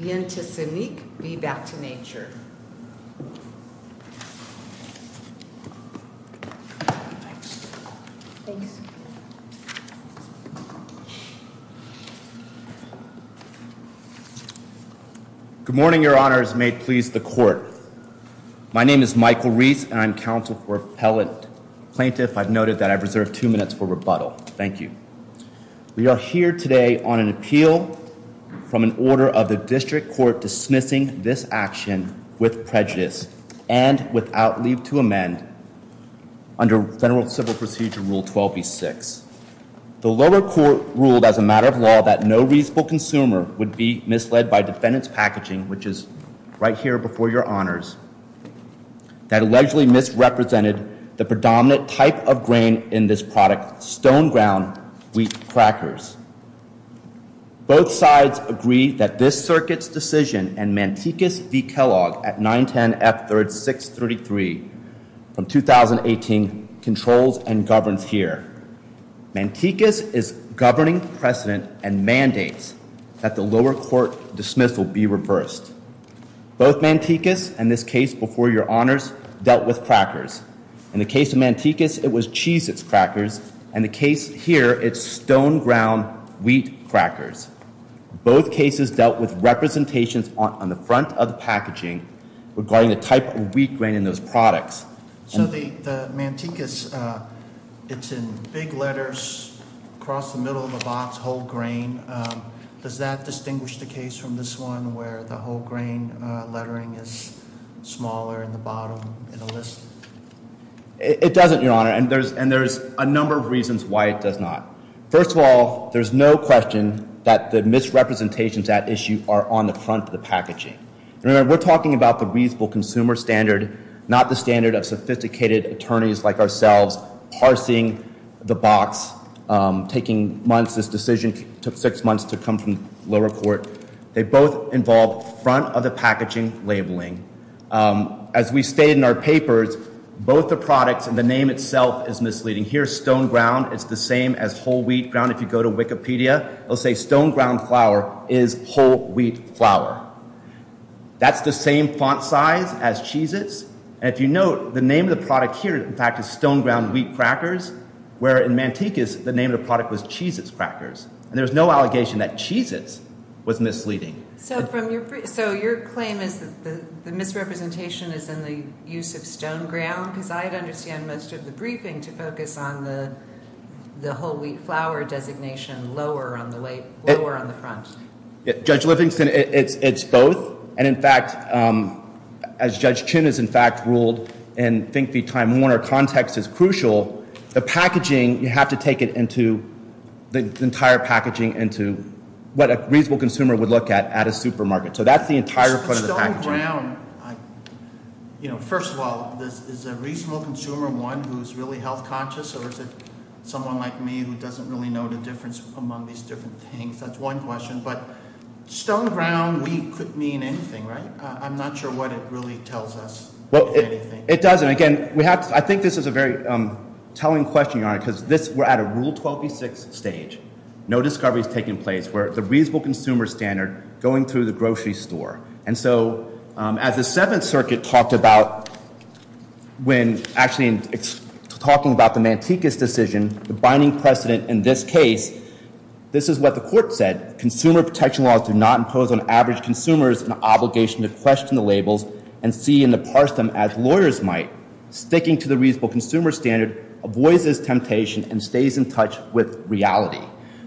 Vienticinque v. Back to Nature Good morning, your honors. May it please the court. My name is Michael Reese and I'm counsel for appellate plaintiff. I've noted that I've reserved two minutes for rebuttal. Thank you. We are here today on an appeal from an order of the district court dismissing this action with prejudice and without leave to amend under federal civil procedure rule 12b6. The lower court ruled as a matter of law that no reasonable consumer would be misled by defendants packaging, which is right here before your honors, that allegedly misrepresented the predominant type of grain in this product, stone ground wheat crackers. Both sides agree that this circuit's decision and Mantecas v. Kellogg at 910 F 3rd 633 from 2018 controls and governs here. Mantecas is governing precedent and mandates that the lower court dismissal be reversed. Both Mantecas and this case before your honors dealt with crackers. In the case of Mantecas, it was cheese. It's crackers and the case here. It's stone ground wheat crackers. Both cases dealt with representations on the front of the packaging regarding the type of wheat grain in those products. So the Mantecas, uh, it's in big letters across the middle of the box. Whole grain. Um, does that distinguish the case from this one where the whole it doesn't, your honor. And there's and there's a number of reasons why it does not. First of all, there's no question that the misrepresentations at issue are on the front of the packaging. Remember, we're talking about the reasonable consumer standard, not the standard of sophisticated attorneys like ourselves are seeing the box taking months. This decision took six months to come from lower court. They both involved front of the packaging labeling. Um, as we stayed in our papers, both the products and the name itself is misleading. Here's stone ground. It's the same as whole wheat ground. If you go to Wikipedia, I'll say stone ground flour is whole wheat flour. That's the same font size as cheeses. And if you note the name of the product here, in fact, is stone ground wheat crackers, where in Mantecas, the name of the product was cheeses, crackers, and there's no misrepresentation is in the use of stone ground because I understand most of the briefing to focus on the whole wheat flour designation lower on the way we were on the front. Judge Livingston, it's both. And in fact, as Judge Chin is, in fact, ruled and think the time Warner context is crucial. The packaging, you have to take it into the entire packaging into what a reasonable consumer would look at at a supermarket. So that's the entire ground. You know, first of all, this is a reasonable consumer one who's really health conscious. Someone like me who doesn't really know the difference among these different things. That's one question. But stone ground we could mean anything, right? I'm not sure what it really tells us. Well, it doesn't. Again, we have. I think this is a very telling question, because this we're at a rule 12B6 stage. No discovery is taking place where the reasonable consumer standard going through the grocery store. And so as the Seventh Circuit talked about when actually it's talking about the Manteca's decision, the binding precedent in this case, this is what the court said. Consumer protection laws do not impose on average consumers an obligation to question the labels and see in the parsed them as lawyers might. Sticking to the reasonable consumer standard avoids this temptation and stays in touch with reality.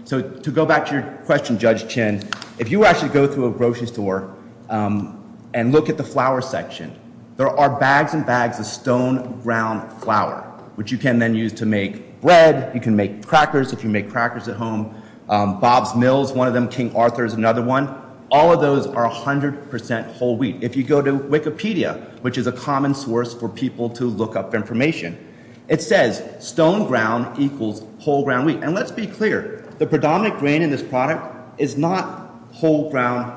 So to go back to your question, Judge Chin, if you actually go through a grocery store and look at the flour section, there are bags and bags of stone ground flour, which you can then use to make bread. You can make crackers if you make crackers at home. Bob's Mills, one of them. King Arthur is another one. All of those are a hundred percent whole wheat. If you go to Wikipedia, which is a common source for people to look up information, it says stone ground equals whole ground wheat. And let's be clear, the predominant grain in this product is not whole ground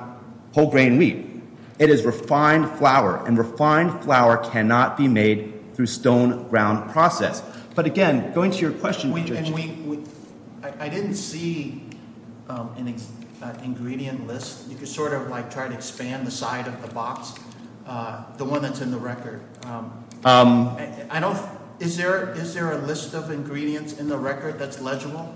whole grain wheat. It is refined flour and refined flour cannot be made through stone ground process. But again, going to your question... I didn't see an ingredient list. You can sort of like try to expand the side of the box, the one that's in the record. Is there a list of ingredients in the record that's legible?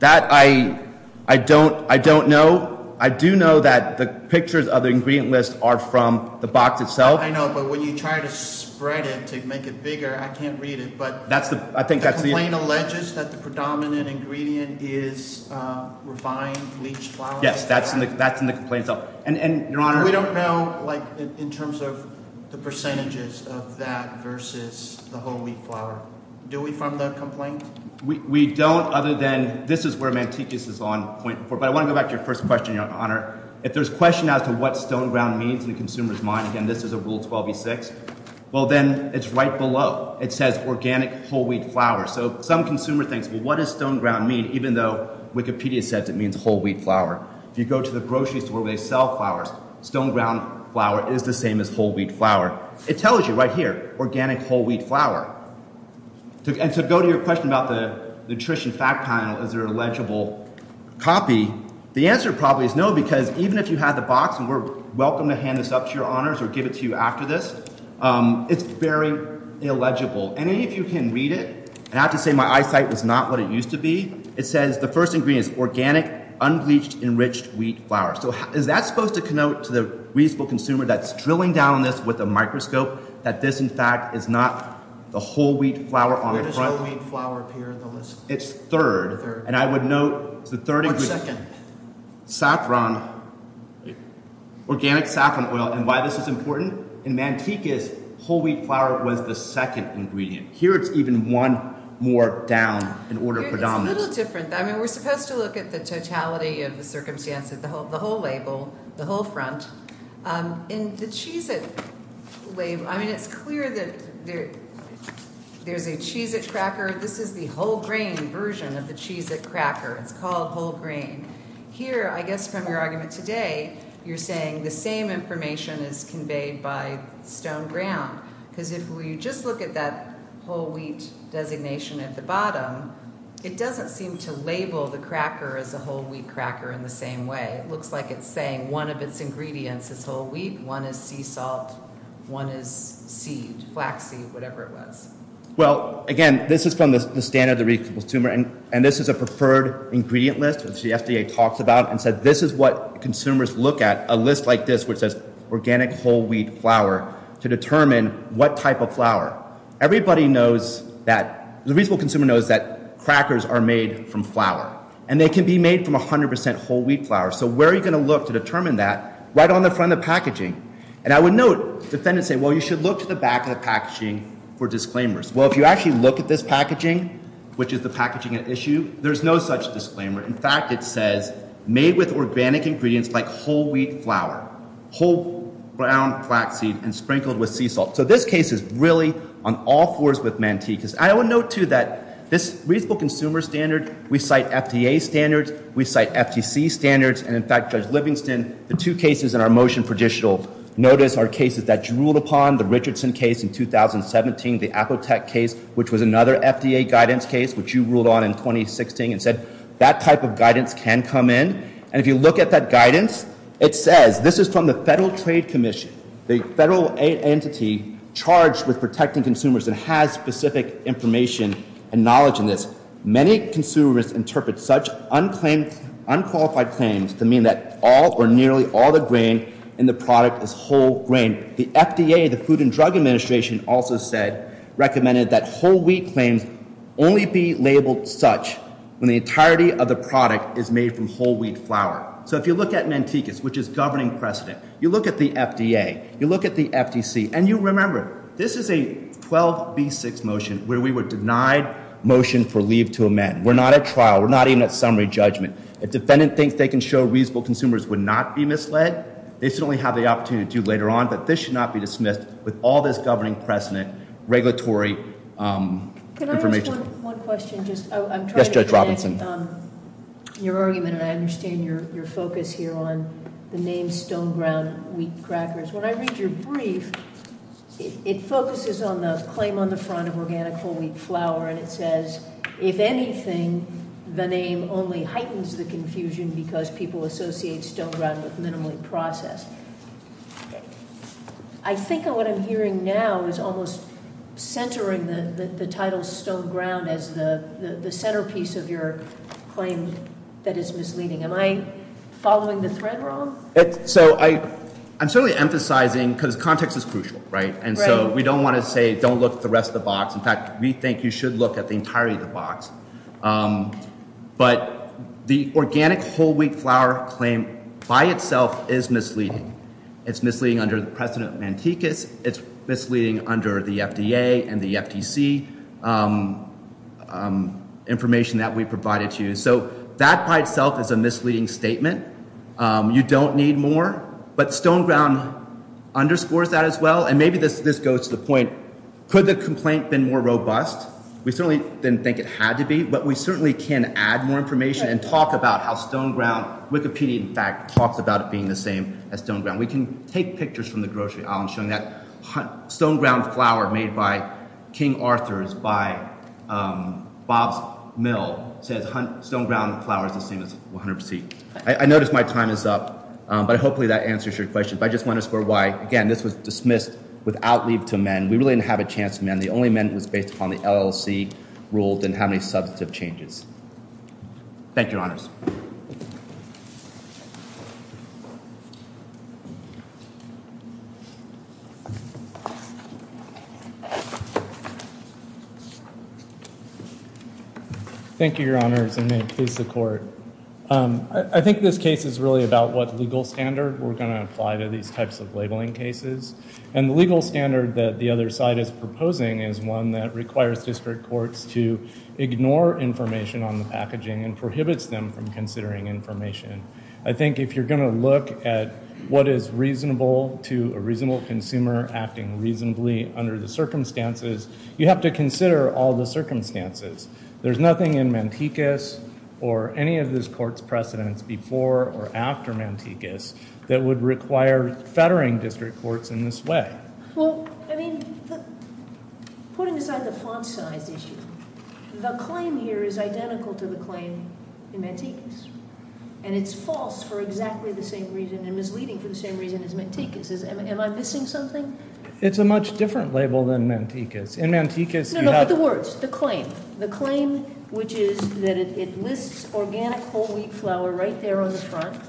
That I don't know. I do know that the pictures of the ingredient list are from the box itself. I know, but when you try to spread it to make it bigger, I can't read it. But the complaint alleges that the predominant ingredient is refined bleached flour. Yes, that's in the complaint itself. We don't know in terms of the percentages of that versus the whole wheat flour. Do we from the complaint? We don't, other than this is where Mantikius is on point four, but I want to go back to your first question, Your Honor. If there's question as to what stone ground means in the consumer's mind, again this is a Rule 12b-6, well then it's right below. It says organic whole wheat flour. So some consumer thinks, well what does stone ground mean, even though Wikipedia says it means whole wheat flour. If you go to the grocery store where they sell flours, stone ground flour is the same as whole wheat flour. It tells you right here, organic whole wheat flour. And to go to your question about the nutrition fact panel, is there a legible copy? The answer probably is no, because even if you had the box, and we're welcome to hand this up to Your Honors or give it to you after this, it's very illegible. Any of you can read it. I have to say my eyesight was not what it used to be. It says the first ingredient is organic, unbleached, enriched wheat flour. So is that supposed to connote to the reasonable consumer that's drilling down on this with a microscope that this in fact is not the whole wheat flour on the front? Where does whole wheat flour appear on the list? It's third, and I would note it's the third ingredient. Or second. Saffron, organic saffron oil. And why this is important? In Manteca's, whole wheat flour was the second ingredient. Here it's even one more down in order of predominance. It's a little different though. I mean we're supposed to look at the totality of the circumstances, the whole label, the whole front. And the Cheez-It label, I mean it's clear that there's a Cheez-It cracker. This is the whole grain version of the Cheez-It cracker. It's called whole grain. Here, I guess from your argument today, you're saying the same information is conveyed by Stone Ground. Because if we just look at that whole wheat designation at the bottom, it doesn't seem to label the cracker as a whole wheat cracker in the same way. It looks like it's saying one of its ingredients is whole wheat, one is sea salt, one is seed, flax seed, whatever it was. Well, again, this is from the standard of the reasonable consumer, and this is a preferred ingredient list, which the FDA talks about, and said this is what consumers look at. A list like this, which says organic whole wheat flour, to the reasonable consumer knows that crackers are made from flour, and they can be made from a hundred percent whole wheat flour. So where are you going to look to determine that? Right on the front of the packaging. And I would note defendants say, well, you should look to the back of the packaging for disclaimers. Well, if you actually look at this packaging, which is the packaging at issue, there's no such disclaimer. In fact, it says made with organic ingredients like whole wheat flour, whole ground flax seed, and sprinkled with sea salt. I would note, too, that this reasonable consumer standard, we cite FDA standards, we cite FTC standards, and in fact, Judge Livingston, the two cases in our motion for judicial notice are cases that you ruled upon, the Richardson case in 2017, the Apotec case, which was another FDA guidance case, which you ruled on in 2016, and said that type of guidance can come in. And if you look at that guidance, it says, this is from the Federal Trade Commission, the federal entity charged with protecting consumers and has specific information and knowledge in this. Many consumers interpret such unclaimed, unqualified claims to mean that all or nearly all the grain in the product is whole grain. The FDA, the Food and Drug Administration, also said, recommended that whole wheat claims only be labeled such when the entirety of the product is made from whole wheat flour. So if you look at Mantecas, which is governing precedent, you look at the FDA, you look at the FTC, and you remember, this is a 12B6 motion where we were denied motion for leave to amend. We're not at trial. We're not even at summary judgment. If defendant thinks they can show reasonable consumers would not be misled, they should only have the opportunity to do later on, but this should not be dismissed with all this governing precedent, regulatory information. Can I ask one question? Yes, Judge Robinson. I'm trying to connect your argument, and I understand your focus here on the name Stone Ground Wheat Crackers. When I read your brief, it focuses on the claim on the front of organic whole wheat flour, and it says, if anything, the name only heightens the confusion because people associate Stone Ground with minimally processed. I think what I'm hearing now is almost centering the title Stone Ground as the centerpiece of your claim that is misleading. Am I following the thread wrong? I'm certainly emphasizing because context is crucial, and so we don't want to say don't look at the rest of the box. In fact, we think you should look at the entirety of the box, but the organic whole wheat flour claim by itself is misleading. It's misleading under the precedent of Mantecas. It's misleading under the FDA and the FTC information that we provided to you, so that by itself is a misleading statement. You don't need more, but Stone Ground underscores that as well, and maybe this goes to the point, could the complaint been more robust? We certainly didn't think it had to be, but we certainly can add more information and talk about how Stone Ground... Wikipedia, in fact, talks about it being the same as Stone Ground. We can take pictures from the grocery aisle and show that Stone Ground flour made by King Arthur's by Bob's Mill says Stone Ground flour is the same as 100%. I notice my time is up, but hopefully that answers your question. But I just want to underscore why, again, this was dismissed without leave to men. We really didn't have a chance to men. The only men was based upon the LLC rule, didn't have any substantive changes. Thank you, Your Honors. Thank you, Your Honors, and may it please the Court. I think this case is really about what legal standard we're going to apply to these types of labeling cases. And the legal standard that the other side is proposing is one that requires district courts to ignore information on the packaging and prohibits them from considering information. I think if you're going to look at what is reasonable to a reasonable consumer acting reasonably under the circumstances, you have to consider all the circumstances. There's nothing in Mantecas or any of this court's precedents before or after Mantecas that would require fettering district courts in this way. Well, I mean, putting aside the font size issue, the claim here is identical to the claim in Mantecas. And it's false for exactly the same reason and misleading for the same reason as Mantecas. Am I missing something? It's a much different label than Mantecas. In Mantecas, you have- No, no, but the words, the claim. The claim, which is that it lists organic whole wheat flour right there on the front.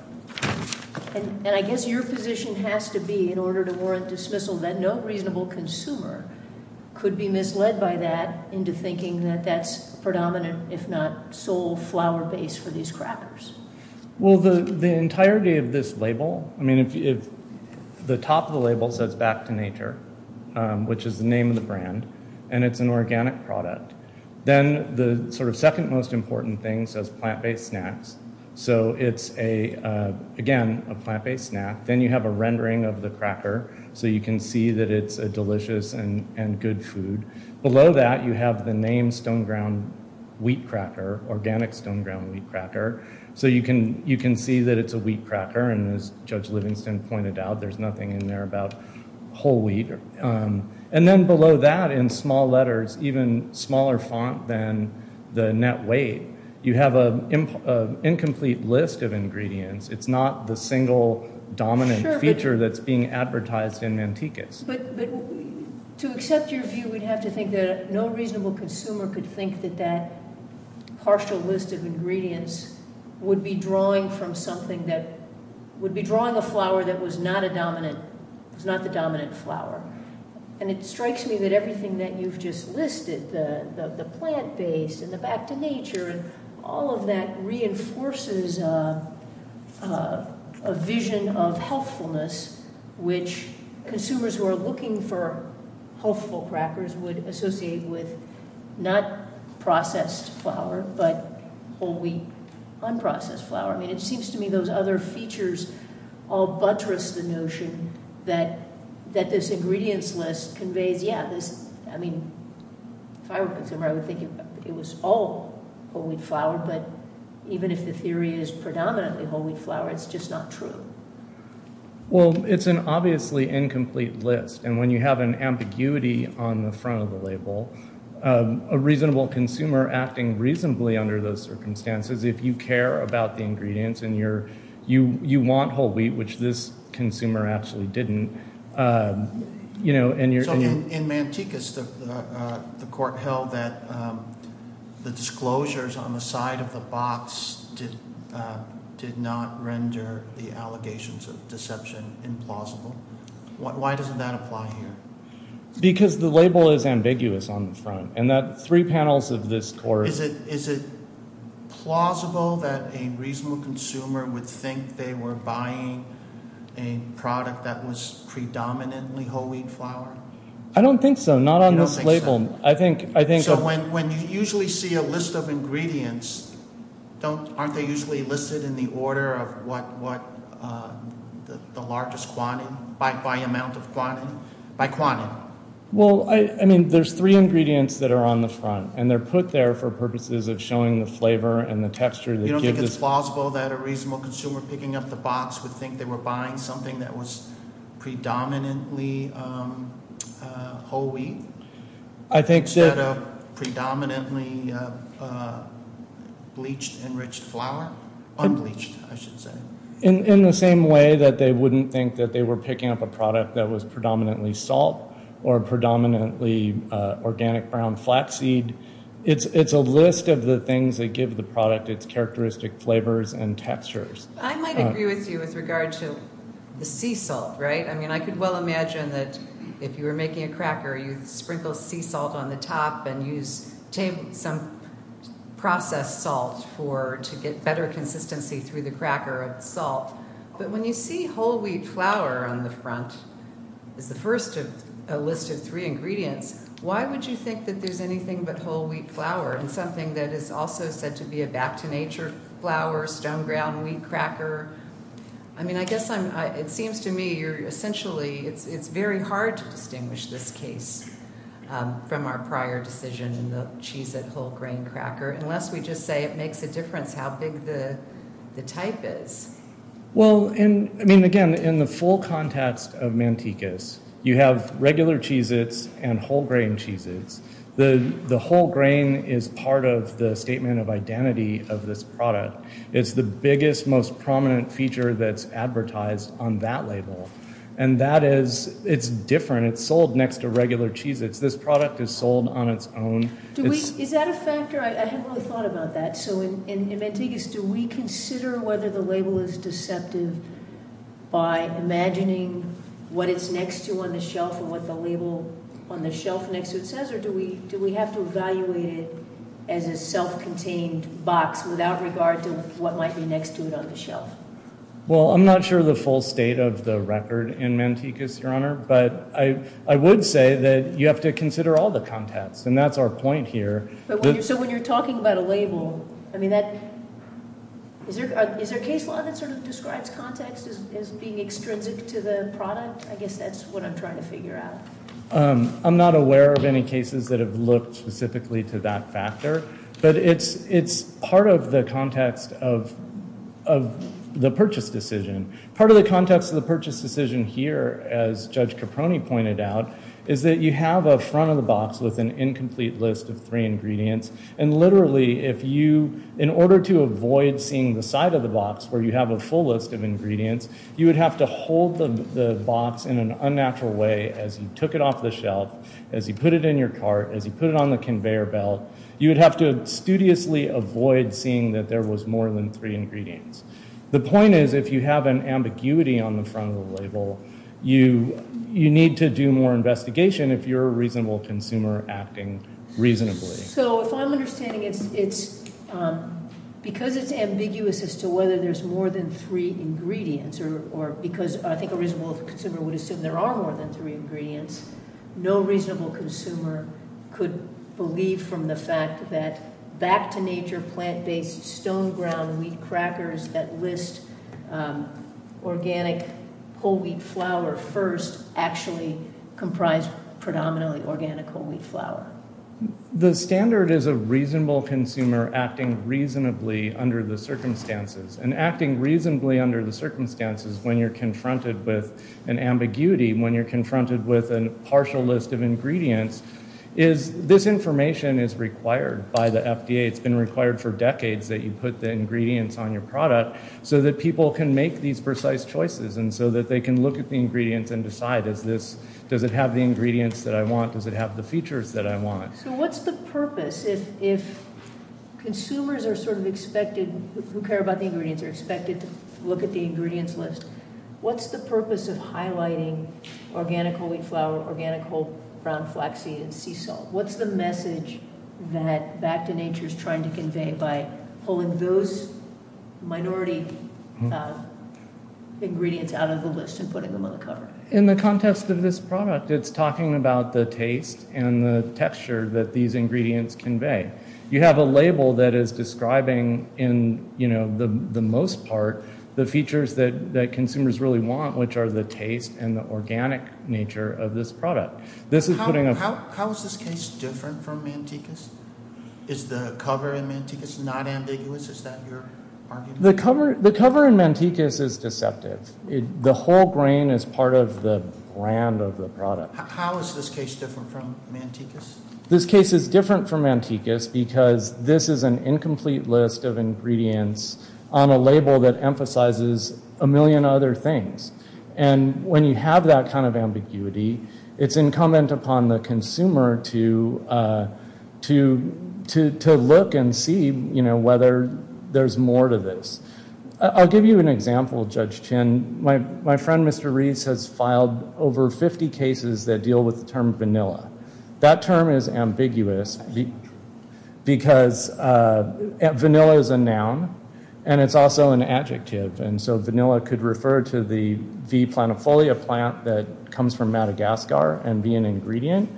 And I guess your position has to be, in order to warrant dismissal, that no reasonable consumer could be misled by that into thinking that that's predominant, if not sole flour base for these crackers. Well, the entirety of this label, I mean, if the top of the label says Back to Nature, which is the name of the brand, and it's an organic product, then the sort of second most important thing says plant-based snacks. So it's, again, a plant-based snack. Then you have a rendering of the cracker. So you can see that it's a delicious and good food. Below that, you have the name Stone Ground Wheat Cracker, Organic Stone Ground Wheat Cracker. So you can see that it's a wheat cracker. And as Judge Livingston pointed out, there's nothing in there about whole wheat. And then below that, in small letters, even smaller font than the net weight, you have an incomplete list of ingredients. It's not the single dominant feature that's being advertised in Mantecas. But to accept your view, we'd have to think that no reasonable consumer could think that that partial list of ingredients would be drawing from something that would be drawing a flour that was not a dominant, was not the dominant flour. And it strikes me that everything that you've just listed, the plant-based and the Back to Nature, and all of that reinforces a vision of healthfulness, which consumers who are looking for healthful crackers would associate with not processed flour, but whole wheat, unprocessed flour. I mean, it seems to me those other features all buttress the notion that this ingredients list conveys, I mean, if I were a consumer, I would think it was all whole wheat flour. But even if the theory is predominantly whole wheat flour, it's just not true. Well, it's an obviously incomplete list. And when you have an ambiguity on the front of the label, a reasonable consumer acting reasonably under those circumstances, if you care about the ingredients and you want whole wheat, which this consumer actually didn't, you know, and you're... So in Mantikas, the court held that the disclosures on the side of the box did not render the allegations of deception implausible. Why doesn't that apply here? Because the label is ambiguous on the front. And that three panels of this court... Is it plausible that a reasonable consumer would think they were buying a product that was predominantly whole wheat flour? I don't think so, not on this label. I think... So when you usually see a list of ingredients, aren't they usually listed in the order of what the largest quantity, by amount of quantity, by quantity? Well, I mean, there's three ingredients that are on the front. And they're put there for purposes of showing the flavor and the texture that gives us... You don't think it's plausible that a reasonable consumer picking up the box would think they were buying something that was predominantly whole wheat? I think... Instead of predominantly bleached enriched flour? Unbleached, I should say. In the same way that they wouldn't think that they were picking up a product that was predominantly salt or predominantly organic brown flaxseed. It's a list of the things that give the product its characteristic flavors and textures. I might agree with you with regard to the sea salt, right? I mean, I could well imagine that if you were making a cracker, you'd sprinkle sea salt on the top and use some processed salt to get better consistency through the cracker of the salt. But when you see whole wheat flour on the front as the first of a list of three ingredients, why would you think that there's anything but whole wheat flour? And something that is also said to be a back-to-nature flour, stone ground wheat cracker? I mean, I guess it seems to me you're essentially... It's very hard to distinguish this case from our prior decision, the Cheez-It whole grain cracker, unless we just say it makes a difference how big the type is. Well, I mean, again, in the full context of Mantecas, you have regular Cheez-Its and whole grain Cheez-Its. The whole grain is part of the statement of identity of this product. It's the biggest, most prominent feature that's advertised on that label. And that is, it's different. It's sold next to regular Cheez-Its. This product is sold on its own. Is that a factor? I hadn't really thought about that. So in Mantecas, do we consider whether the label is deceptive by imagining what it's next to on the shelf and what the label on the shelf next to it says? Or do we have to evaluate it as a self-contained box without regard to what might be next to it on the shelf? Well, I'm not sure the full state of the record in Mantecas, Your Honor. But I would say that you have to consider all the context. And that's our point here. So when you're talking about a label, I mean, is there a case law that sort of describes context as being extrinsic to the product? I guess that's what I'm trying to figure out. I'm not aware of any cases that have looked specifically to that factor. But it's part of the context of the purchase decision. Part of the context of the purchase decision here, as Judge Caproni pointed out, is that you have a front of the box with an incomplete list of three ingredients. And literally, in order to avoid seeing the side of the box where you have a full list of ingredients, you would have to hold the box in an unnatural way as you took it off the shelf, as you put it in your cart, as you put it on the conveyor belt. You would have to studiously avoid seeing that there was more than three ingredients. The point is, if you have an ambiguity on the front of the label, you need to do more investigation if you're a reasonable consumer acting reasonably. So if I'm understanding it's, because it's ambiguous as to whether there's more than three ingredients, or because I think a reasonable consumer would assume there are more than three ingredients. No reasonable consumer could believe from the fact that back to nature, plant-based stone ground wheat crackers that list organic whole wheat flour first actually comprise predominantly organic whole wheat flour. The standard is a reasonable consumer acting reasonably under the circumstances. And acting reasonably under the circumstances when you're confronted with an ambiguity, when you're confronted with a partial list of ingredients, is, this information is required by the FDA. It's been required for decades that you put the ingredients on your product so that people can make these precise choices. And so that they can look at the ingredients and decide, is this, does it have the ingredients that I want? Does it have the features that I want? So what's the purpose if consumers are sort of expected, who care about the ingredients, are expected to look at the ingredients list? What's the purpose of highlighting organic whole wheat flour, organic whole brown flaxseed, and sea salt? What's the message that back to nature is trying to convey by pulling those minority ingredients out of the list and putting them on the cover? In the context of this product, it's talking about the taste and the texture that these ingredients convey. You have a label that is describing in, you know, the most part, the features that consumers really want, which are the taste and the organic nature of this product. How is this case different from Mantecas? Is the cover in Mantecas not ambiguous? Is that your argument? The cover in Mantecas is deceptive. The whole grain is part of the brand of the product. How is this case different from Mantecas? This case is different from Mantecas because this is an incomplete list of ingredients on a label that emphasizes a million other things. And when you have that kind of ambiguity, it's incumbent upon the consumer to look and see, you know, whether there's more to this. I'll give you an example, Judge Chin. My friend, Mr. Rees, has filed over 50 cases that deal with the term vanilla. That term is ambiguous because vanilla is a noun and it's also an adjective. And so vanilla could refer to the V. planifolia plant that comes from Madagascar and be an ingredient.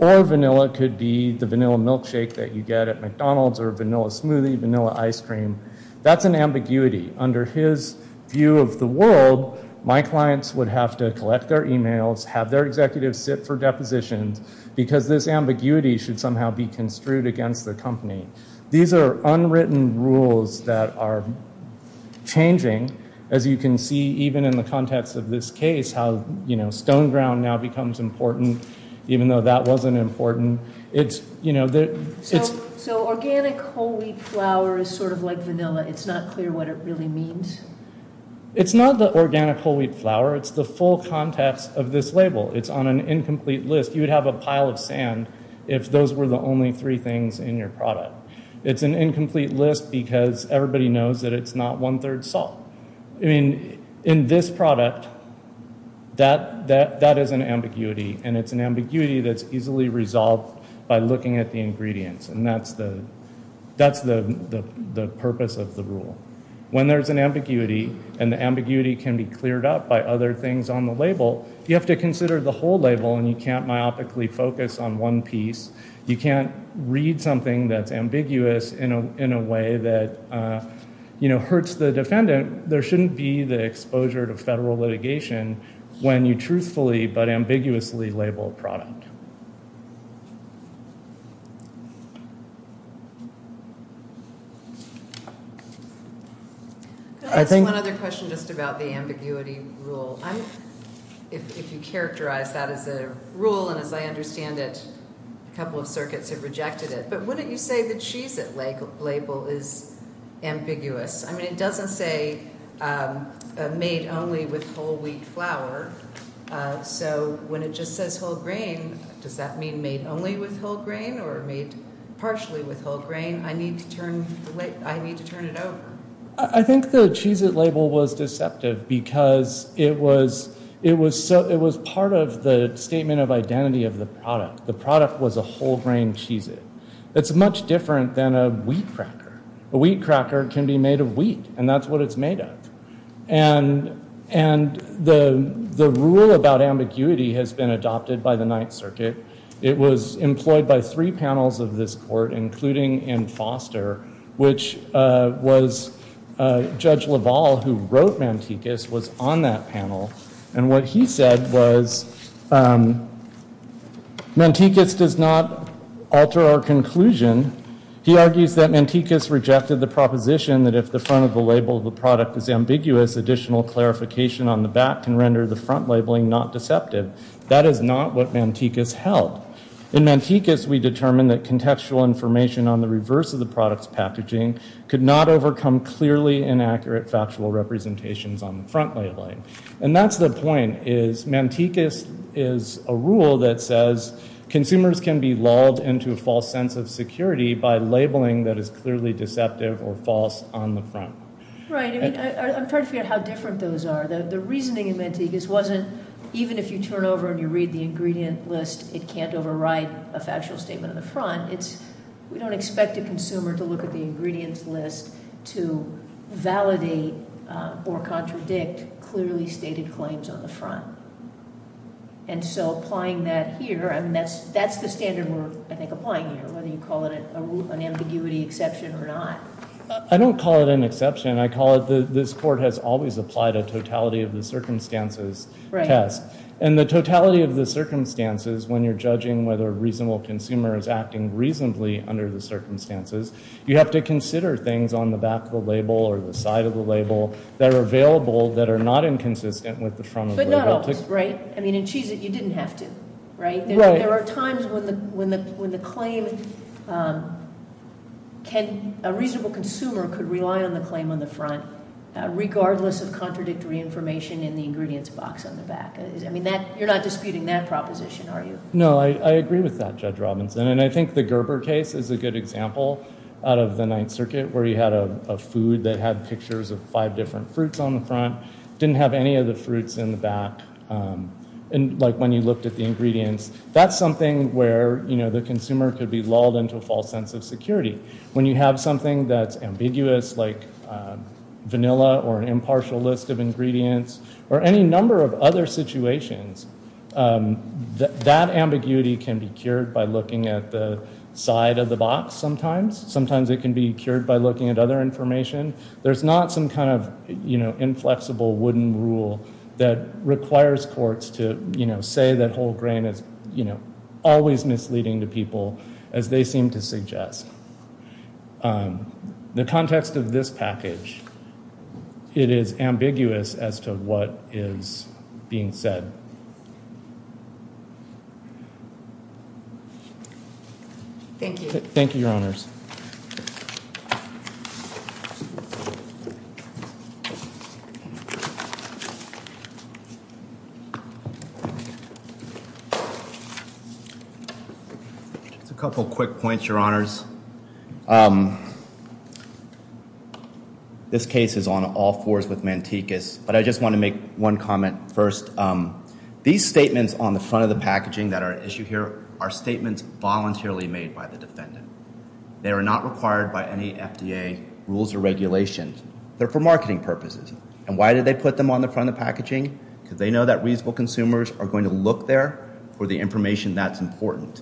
Or vanilla could be the vanilla milkshake that you get at McDonald's or vanilla smoothie, vanilla ice cream. That's an ambiguity. Under his view of the world, my clients would have to collect their emails, have their executives sit for depositions, because this ambiguity should somehow be construed against the company. These are unwritten rules that are changing, as you can see, even in the context of this case, how, you know, stone ground now becomes important, even though that wasn't important. So organic whole wheat flour is sort of like vanilla. It's not clear what it really means. It's not the organic whole wheat flour. It's the full context of this label. It's on an incomplete list. You would have a pile of sand if those were the only three things in your product. It's an incomplete list because everybody knows that it's not one third salt. I mean, in this product, that is an ambiguity. And it's an ambiguity that's easily resolved by looking at the ingredients. And that's the purpose of the rule. When there's an ambiguity, and the ambiguity can be cleared up by other things on the label, you have to consider the whole label, and you can't myopically focus on one piece. You can't read something that's ambiguous in a way that, you know, hurts the defendant. There shouldn't be the exposure to federal litigation when you truthfully, but ambiguously, label a product. I think one other question just about the ambiguity rule. If you characterize that as a rule, and as I understand it, a couple of circuits have rejected it, but wouldn't you say that she's at label is ambiguous? I mean, it doesn't say made only with whole wheat flour. So when it just says whole grain, does that mean made only with whole grain, or made partially with whole grain? I need to turn it over. I think the Cheez-It label was deceptive because it was part of the statement of identity of the product. The product was a whole grain Cheez-It. It's much different than a wheat cracker. A wheat cracker can be made of wheat, and that's what it's made of. And the rule about ambiguity has been adopted by the Ninth Circuit. It was employed by three panels of this court, including in Foster, which was Judge LaValle, who wrote Mantikas, was on that panel. And what he said was, Mantikas does not alter our conclusion. He argues that Mantikas rejected the proposition that if the front of the label of the product is ambiguous, additional clarification on the back can render the front labeling not deceptive. That is not what Mantikas held. In Mantikas, we determined that contextual information on the reverse of the product's packaging could not overcome clearly inaccurate factual representations on the front labeling. And that's the point, is Mantikas is a rule that says consumers can be lulled into a false sense of security by labeling that is clearly deceptive or false on the front. Right, I'm trying to figure out how different those are. The reasoning in Mantikas wasn't even if you turn over and you read the ingredient list, it can't override a factual statement on the front. We don't expect a consumer to look at the ingredients list to validate or contradict clearly stated claims on the front. And so applying that here, that's the standard we're applying here, whether you call it an ambiguity exception or not. I don't call it an exception, I call it this court has always applied a totality of the circumstances test. And the totality of the circumstances when you're judging whether a reasonable consumer is acting reasonably under the circumstances, you have to consider things on the back of the label or the side of the label that are available that are not inconsistent with the front of the label. But not always, right? I mean, in Cheez-It you didn't have to, right? There are times when the claim, a reasonable consumer could rely on the claim on the front, regardless of contradictory information in the ingredients box on the back. I mean, you're not disputing that proposition, are you? No, I agree with that, Judge Robinson. And I think the Gerber case is a good example out of the Ninth Circuit, didn't have any of the fruits in the back, like when you looked at the ingredients. That's something where the consumer could be lulled into a false sense of security. When you have something that's ambiguous, like vanilla or an impartial list of ingredients, or any number of other situations, that ambiguity can be cured by looking at the side of the box sometimes. Sometimes it can be cured by looking at other information. There's not some kind of inflexible wooden rule that requires courts to say that whole grain is always misleading to people, as they seem to suggest. The context of this package, it is ambiguous as to what is being said. Thank you. Thank you, Your Honors. Thank you. Just a couple quick points, Your Honors. This case is on all fours with Mantecas, but I just want to make one comment first. These statements on the front of the packaging that are at issue here are statements voluntarily made by the defendant. They are not required by any FDA rules or regulations. They're for marketing purposes. And why did they put them on the front of the packaging? Because they know that reasonable consumers are going to look there for the information that's important.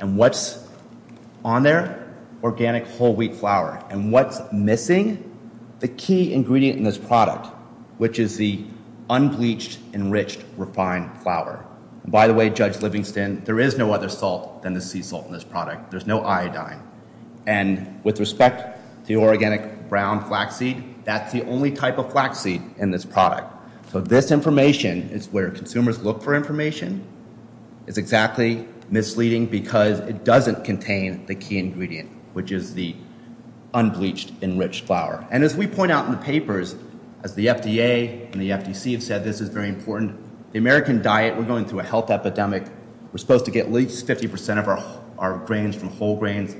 And what's on there? Organic whole wheat flour. And what's missing? The key ingredient in this product, which is the unbleached, enriched, refined flour. By the way, Judge Livingston, there is no other salt than the sea salt in this product. There's no iodine. And with respect to the organic brown flaxseed, that's the only type of flaxseed in this product. So this information is where consumers look for information. It's exactly misleading because it doesn't contain the key ingredient, which is the unbleached, enriched flour. And as we point out in the papers, as the FDA and the FDC have said, this is very important. The American diet, we're going through a health epidemic. We're supposed to get at least 50% of our grains from whole grains.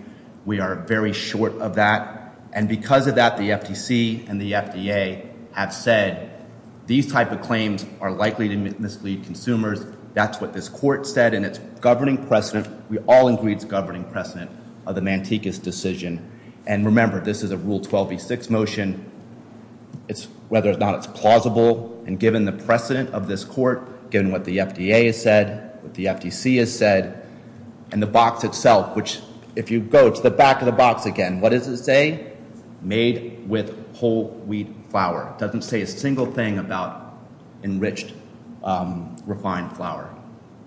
We are very short of that. And because of that, the FDC and the FDA have said, these type of claims are likely to mislead consumers. That's what this court said. And it's governing precedent. We all agree it's governing precedent of the Manteca's decision. And remember, this is a Rule 12b6 motion. It's whether or not it's plausible. And given the precedent of this court, given what the FDA has said, what the FDC has said, and the box itself, which if you go to the back of the box again, what does it say? Made with whole wheat flour. It doesn't say a single thing about enriched, refined flour.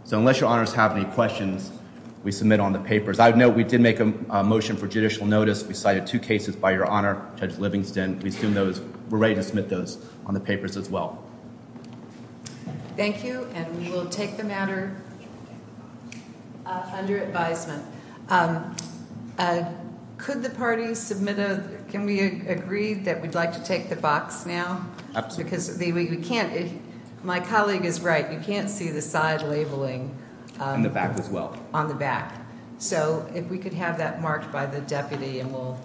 So unless your honors have any questions, we submit on the papers. I would note we did make a motion for judicial notice. We cited two cases by your honor, Judge Livingston. And we assume those, we're ready to submit those on the papers as well. Thank you. And we will take the matter under advisement. Could the party submit a, can we agree that we'd like to take the box now? Absolutely. Because we can't, my colleague is right. You can't see the side labeling. On the back as well. On the back. So if we could have that marked by the deputy and we'll.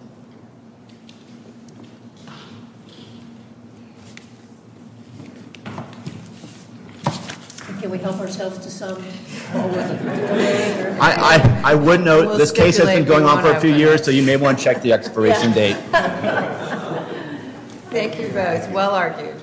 Can we help ourselves to some? I would note this case has been going on for a few years, so you may want to check the expiration date. Thank you both. Well argued.